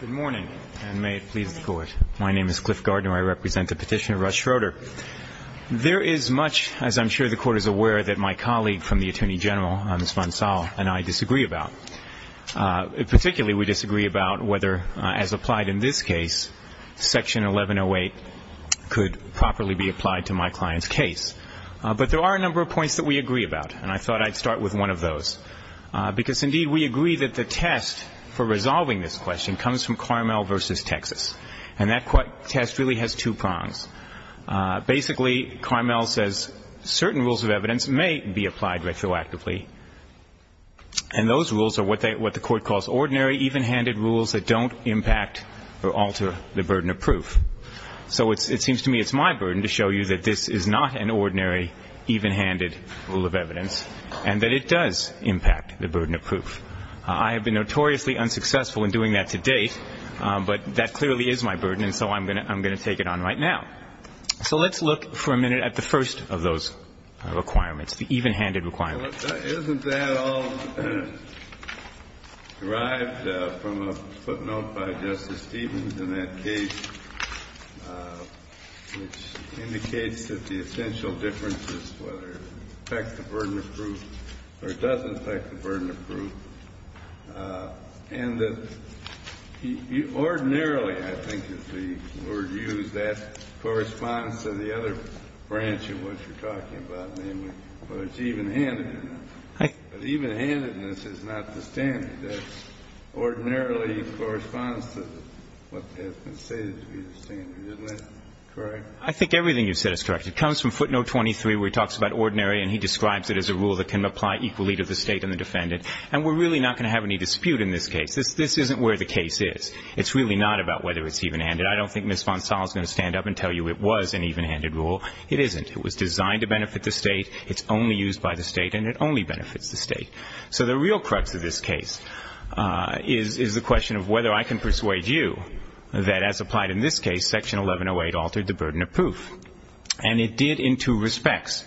Good morning, and may it please the Court. My name is Cliff Gardner. I represent the petitioner, Russ Schroeder. There is much, as I'm sure the Court is aware, that my colleague from the Attorney General, Ms. Vonsall, and I disagree about. Particularly, we disagree about whether, as applied in this case, Section 1108 could properly be applied to my client's case. But there are a number of points that we agree about, and I thought I'd start with one of those. Because, indeed, we agree that the test for resolving this question comes from Carmel v. Texas. And that test really has two prongs. Basically, Carmel says certain rules of evidence may be applied retroactively, and those rules are what the Court calls ordinary, even-handed rules that don't impact or alter the burden of proof. So it seems to me it's my burden to show you that this is not an ordinary, even-handed rule of evidence, and that it does impact the burden of proof. I have been notoriously unsuccessful in doing that to date, but that clearly is my burden, and so I'm going to take it on right now. So let's look for a minute at the first of those requirements, the even-handed requirements. Well, isn't that all derived from a footnote by Justice Stevens in that case, which indicates that the essential differences, whether it affects the burden of proof or it doesn't affect the burden of proof, and that ordinarily, I think is the word used, that corresponds to the other branch of what you're talking about, which is even-handedness. But even-handedness is not the standard. That ordinarily corresponds to what has been stated to be the standard. Isn't that correct? I think everything you've said is correct. It comes from footnote 23, where he talks about ordinary, and he describes it as a rule that can apply equally to the State and the defendant. And we're really not going to have any dispute in this case. This isn't where the case is. It's really not about whether it's even-handed. I don't think Ms. Vonsall is going to stand up and tell you it was an even-handed rule. It isn't. It was designed to benefit the State. It's only used by the State, and it only benefits the State. So the real crux of this case is the question of whether I can persuade you that, as applied in this case, Section 1108 altered the burden of proof. And it did in two respects.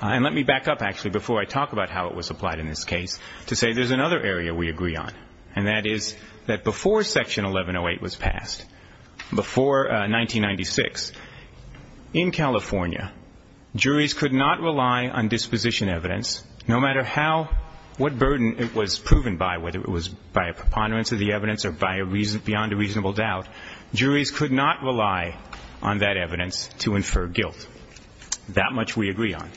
And let me back up, actually, before I talk about how it was applied in this case, to say there's another area we agree on, and that is that before Section 1108 was passed, before 1996, in California, juries could not rely on disposition evidence, no matter what burden it was proven by, whether it was by a preponderance of the evidence or beyond a reasonable doubt. Juries could not rely on that evidence to infer guilt. That much we agree on.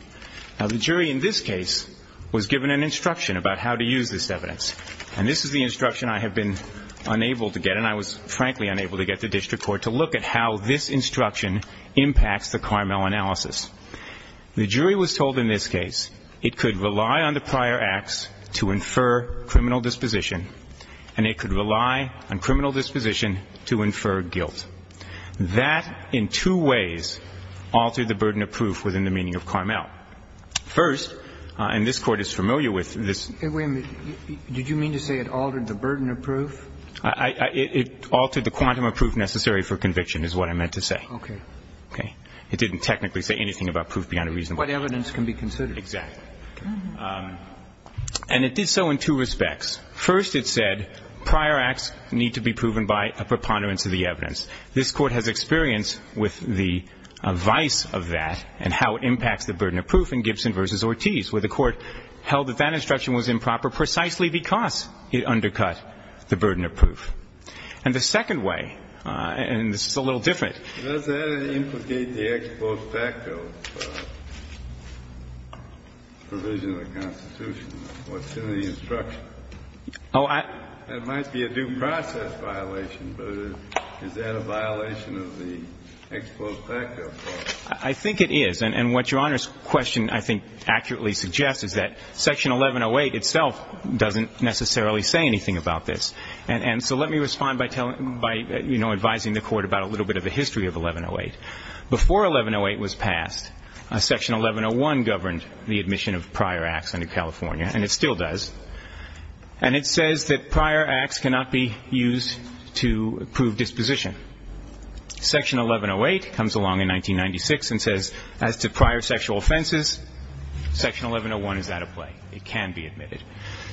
Now, the jury in this case was given an instruction about how to use this evidence. And this is the instruction I have been unable to get, and I was, frankly, unable to get the district court to look at how this instruction impacts the Carmel analysis. The jury was told in this case it could rely on the prior acts to infer criminal disposition, and it could rely on criminal disposition to infer guilt. That, in two ways, altered the burden of proof within the meaning of Carmel. First, and this Court is familiar with this. Wait a minute. Did you mean to say it altered the burden of proof? It altered the quantum of proof necessary for conviction is what I meant to say. Okay. Okay. It didn't technically say anything about proof beyond a reasonable doubt. But evidence can be considered. Exactly. And it did so in two respects. First, it said prior acts need to be proven by a preponderance of the evidence. This Court has experience with the vice of that and how it impacts the burden of proof in Gibson v. Ortiz, where the Court held that that instruction was improper precisely because it undercut the burden of proof. And the second way, and this is a little different. Does that implicate the ex post facto provision of the Constitution? What's in the instruction? Oh, I. It might be a due process violation, but is that a violation of the ex post facto clause? I think it is. And what Your Honor's question I think accurately suggests is that Section 1108 itself doesn't necessarily say anything about this. And so let me respond by, you know, advising the Court about a little bit of the history of 1108. Before 1108 was passed, Section 1101 governed the admission of prior acts under California, and it still does. And it says that prior acts cannot be used to prove disposition. Section 1108 comes along in 1996 and says as to prior sexual offenses, Section 1101 is out of play. It can be admitted.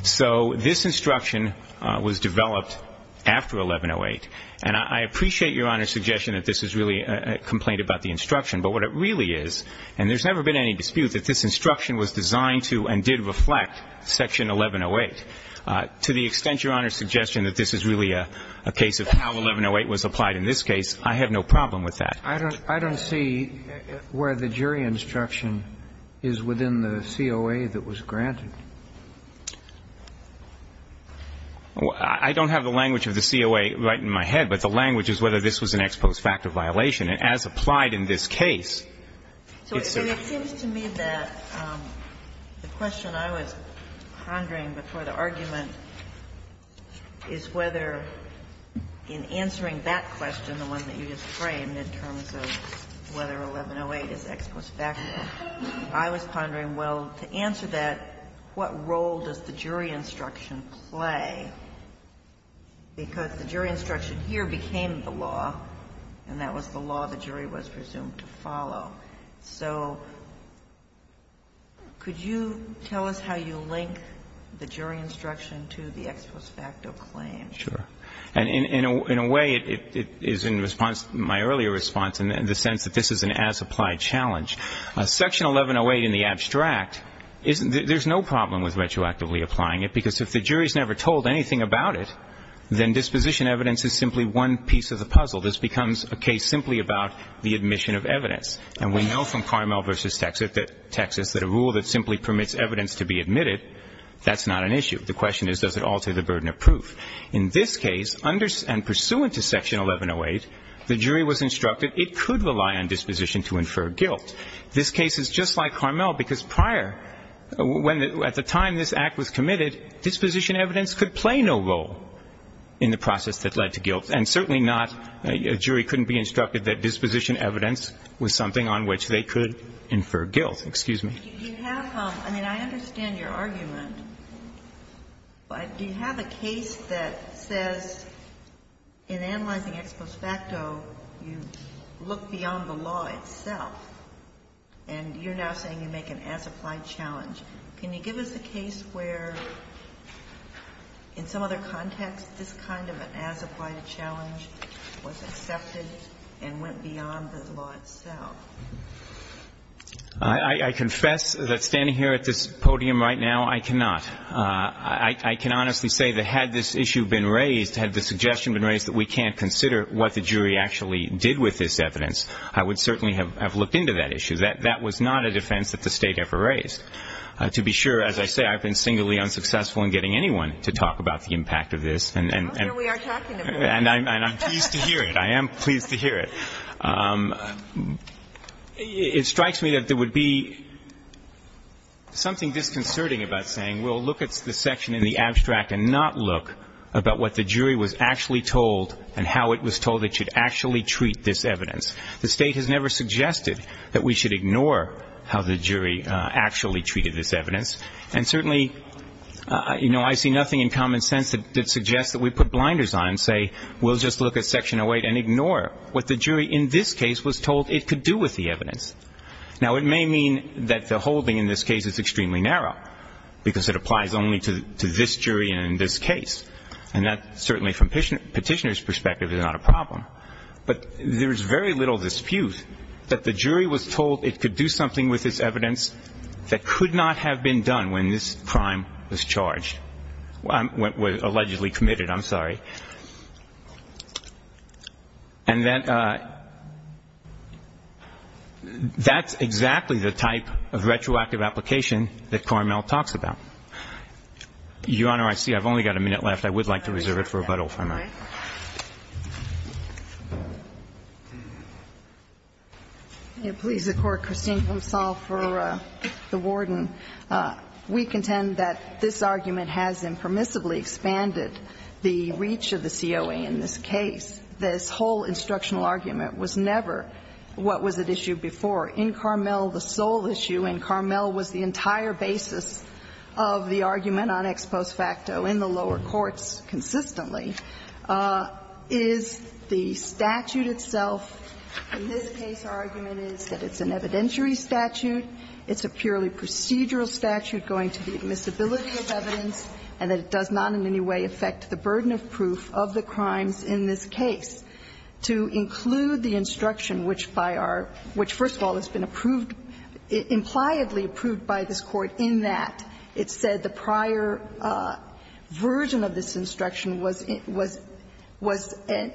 So this instruction was developed after 1108. And I appreciate Your Honor's suggestion that this is really a complaint about the instruction. But what it really is, and there's never been any dispute that this instruction was designed to and did reflect Section 1108. To the extent Your Honor's suggestion that this is really a case of how 1108 was applied in this case, I have no problem with that. I don't see where the jury instruction is within the COA that was granted. I don't have the language of the COA right in my head, but the language is whether this was an ex post facto violation. And as applied in this case, it's a ---- And it seems to me that the question I was pondering before the argument is whether in answering that question, the one that you just framed, in terms of whether 1108 is ex post facto, I was pondering, well, to answer that, what role does the jury instruction play, because the jury instruction here became the law, and that was the case. Could you tell us how you link the jury instruction to the ex post facto claim? Sure. And in a way, it is in response to my earlier response in the sense that this is an as-applied challenge. Section 1108 in the abstract, there's no problem with retroactively applying it, because if the jury's never told anything about it, then disposition evidence is simply one piece of the puzzle. This becomes a case simply about the admission of evidence. And we know from Carmel v. Texas that a rule that simply permits evidence to be admitted, that's not an issue. The question is, does it alter the burden of proof? In this case, under and pursuant to Section 1108, the jury was instructed it could rely on disposition to infer guilt. This case is just like Carmel, because prior, when the ---- at the time this Act was committed, disposition evidence could play no role in the process that led to guilt, and certainly not ---- a jury couldn't be instructed that disposition evidence was something on which they could infer guilt. Excuse me. Do you have ---- I mean, I understand your argument, but do you have a case that says in analyzing ex post facto, you look beyond the law itself, and you're now saying you make an as-applied challenge. Can you give us a case where in some other context this kind of an as-applied challenge was accepted and went beyond the law itself? I confess that standing here at this podium right now, I cannot. I can honestly say that had this issue been raised, had the suggestion been raised that we can't consider what the jury actually did with this evidence, I would certainly have looked into that issue. That was not a defense that the State ever raised. To be sure, as I say, I've been singularly unsuccessful in getting anyone to talk about the impact of this. And I'm pleased to hear it. I am pleased to hear it. It strikes me that there would be something disconcerting about saying, well, look at the section in the abstract and not look about what the jury was actually told and how it was told it should actually treat this evidence. The State has never suggested that we should ignore how the jury actually treated this evidence. And certainly, you know, I see nothing in common sense that suggests that we put blinders on and say we'll just look at Section 08 and ignore what the jury in this case was told it could do with the evidence. Now, it may mean that the holding in this case is extremely narrow because it applies only to this jury and in this case. And that certainly from Petitioner's perspective is not a problem. But there is very little dispute that the jury was told it could do something with this evidence that could not have been done when this crime was charged, was allegedly committed. I'm sorry. And that's exactly the type of retroactive application that Carmel talks about. Your Honor, I see I've only got a minute left. All right. Please, the Court. Christine, I'm sorry for the warden. We contend that this argument has impermissibly expanded the reach of the COA in this case. This whole instructional argument was never what was at issue before. In Carmel, the sole issue in Carmel was the entire basis of the argument on ex post facto in the lower courts consistently is the statute itself. In this case, our argument is that it's an evidentiary statute. It's a purely procedural statute going to the admissibility of evidence and that it does not in any way affect the burden of proof of the crimes in this case. To include the instruction which by our – which, first of all, has been approved – impliedly approved by this Court in that it said the prior version of this instruction was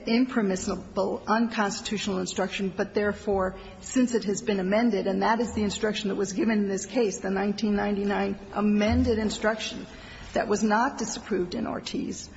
impermissible, unconstitutional instruction, but therefore, since it has been amended, and that is the instruction that was given in this case, the 1999 amended instruction that was not disapproved in Ortiz,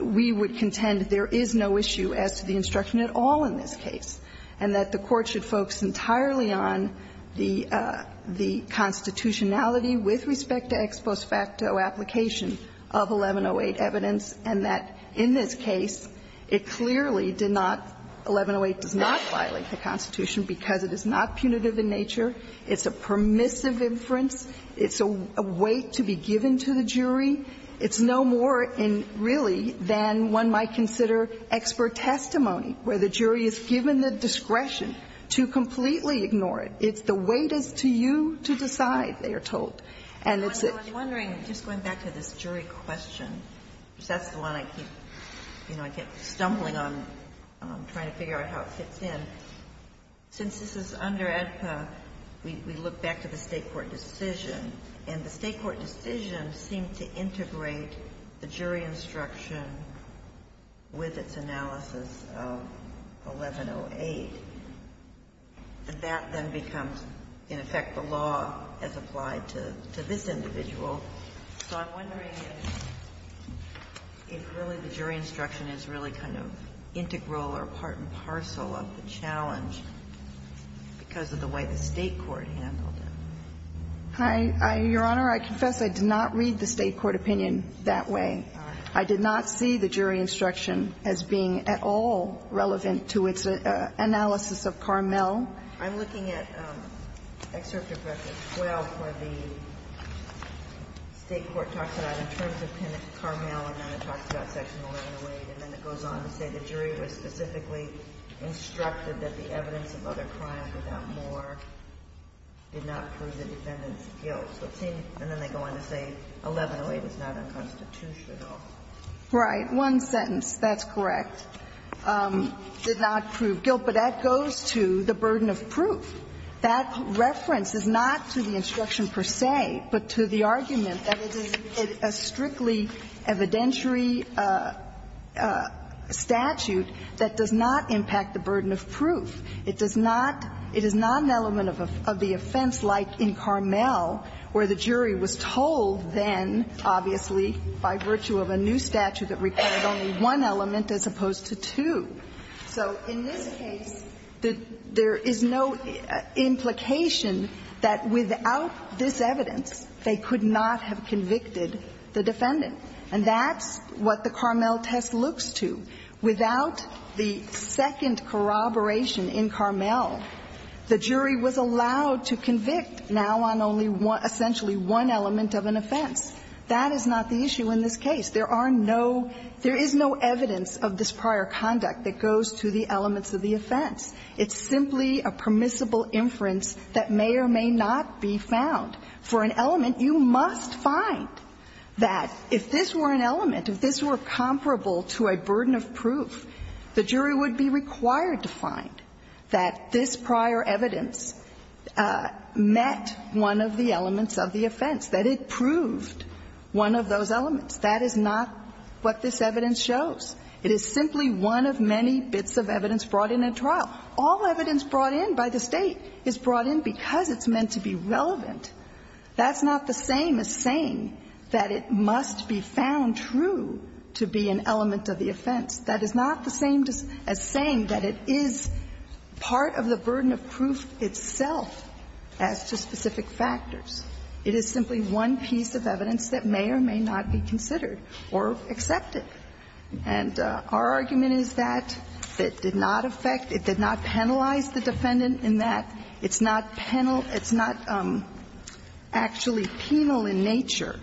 we would contend there is no issue as to the instruction at all in this case, and that the Court should focus entirely on the constitutionality with respect to ex post facto application of 1108 evidence, and that in this case, it clearly did not – 1108 does not violate the Constitution because it is not punitive in nature, it's a permissive inference, it's a weight to be given to the jury. It's no more in, really, than one might consider expert testimony, where the jury is given the discretion to completely ignore it. It's the weight is to you to decide, they are told. And it's a – Ginsburg I'm wondering, just going back to this jury question, because that's the one I keep, you know, I keep stumbling on trying to figure out how it fits in. Since this is under AEDPA, we look back to the State court decision, and the State court decision was to integrate the jury instruction with its analysis of 1108. And that then becomes, in effect, the law as applied to this individual. So I'm wondering if really the jury instruction is really kind of integral or part and parcel of the challenge because of the way the State court handled it. Hi. Your Honor, I confess I did not read the State court opinion that way. I did not see the jury instruction as being at all relevant to its analysis of Carmel. I'm looking at Excerpt of Section 12 where the State court talks about in terms of Penitent Carmel, and then it talks about Section 1108, and then it goes on to say the jury was specifically instructed that the evidence of other crimes without more did not prove the defendant's guilt. And then they go on to say 1108 is not unconstitutional. Right. One sentence, that's correct, did not prove guilt. But that goes to the burden of proof. That reference is not to the instruction per se, but to the argument that it is a strictly evidentiary statute that does not impact the burden of proof. It does not – it is not an element of the offense like in Carmel where the jury was told then, obviously, by virtue of a new statute that required only one element as opposed to two. So in this case, there is no implication that without this evidence they could not have convicted the defendant, and that's what the Carmel test looks to. Without the second corroboration in Carmel, the jury was allowed to convict now on only essentially one element of an offense. That is not the issue in this case. There are no – there is no evidence of this prior conduct that goes to the elements of the offense. It's simply a permissible inference that may or may not be found. For an element, you must find that if this were an element, if this were comparable to a burden of proof, the jury would be required to find that this prior evidence met one of the elements of the offense, that it proved one of those elements. That is not what this evidence shows. It is simply one of many bits of evidence brought in at trial. All evidence brought in by the State is brought in because it's meant to be relevant. That's not the same as saying that it must be found true to be an element of the offense. That is not the same as saying that it is part of the burden of proof itself as to specific factors. It is simply one piece of evidence that may or may not be considered or accepted. And our argument is that it did not affect, it did not penalize the defendant in that, it's not penal, it's not actually penal in nature,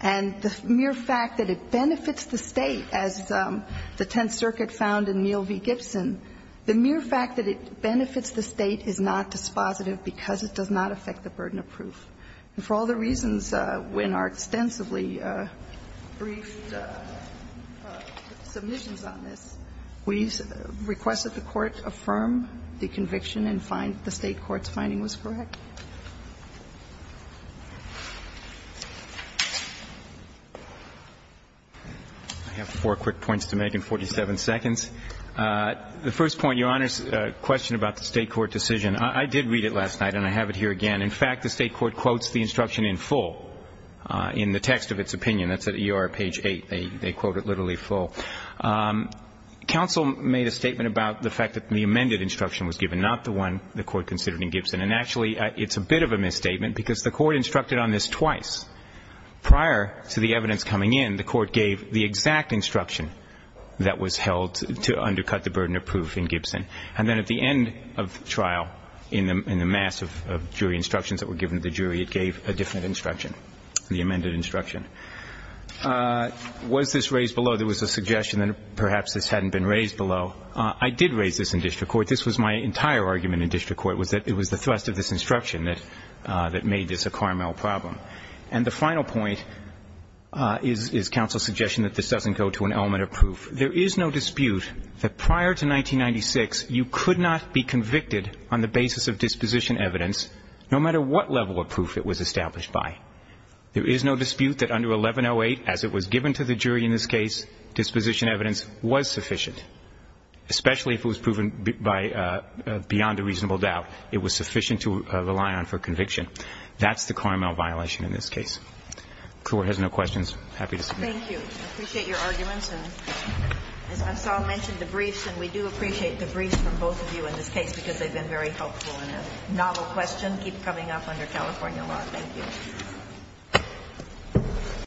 and the mere fact that it benefits the State, as the Tenth Circuit found in Neal v. Gibson, the mere fact that it benefits the State is not dispositive because it does not affect the burden of proof. And for all the reasons, in our extensively briefed submissions on this, we requested that the Court affirm the conviction and find the State court's finding was correct. I have four quick points to make in 47 seconds. The first point, Your Honor's question about the State court decision. I did read it last night and I have it here again. In fact, the State court quotes the instruction in full in the text of its opinion. That's at ER page 8. They quote it literally full. Counsel made a statement about the fact that the amended instruction was given, not the one the Court considered in Gibson. And actually, it's a bit of a misstatement because the Court instructed on this twice. Prior to the evidence coming in, the Court gave the exact instruction that was held to undercut the burden of proof in Gibson. And then at the end of the trial, in the mass of jury instructions that were given to the jury, it gave a different instruction, the amended instruction. Was this raised below? There was a suggestion that perhaps this hadn't been raised below. I did raise this in district court. This was my entire argument in district court, was that it was the thrust of this instruction that made this a Carmel problem. And the final point is counsel's suggestion that this doesn't go to an element of proof. There is no dispute that prior to 1996, you could not be convicted on the basis of disposition evidence, no matter what level of proof it was established by. There is no dispute that under 1108, as it was given to the jury in this case, disposition evidence was sufficient, especially if it was proven beyond a reasonable doubt. It was sufficient to rely on for conviction. That's the Carmel violation in this case. The Court has no questions. I'm happy to submit. Thank you. I appreciate your arguments. And as I saw mentioned, the briefs, and we do appreciate the briefs from both of you in this case because they've been very helpful and a novel question. They keep coming up under California law. Thank you. Thank you.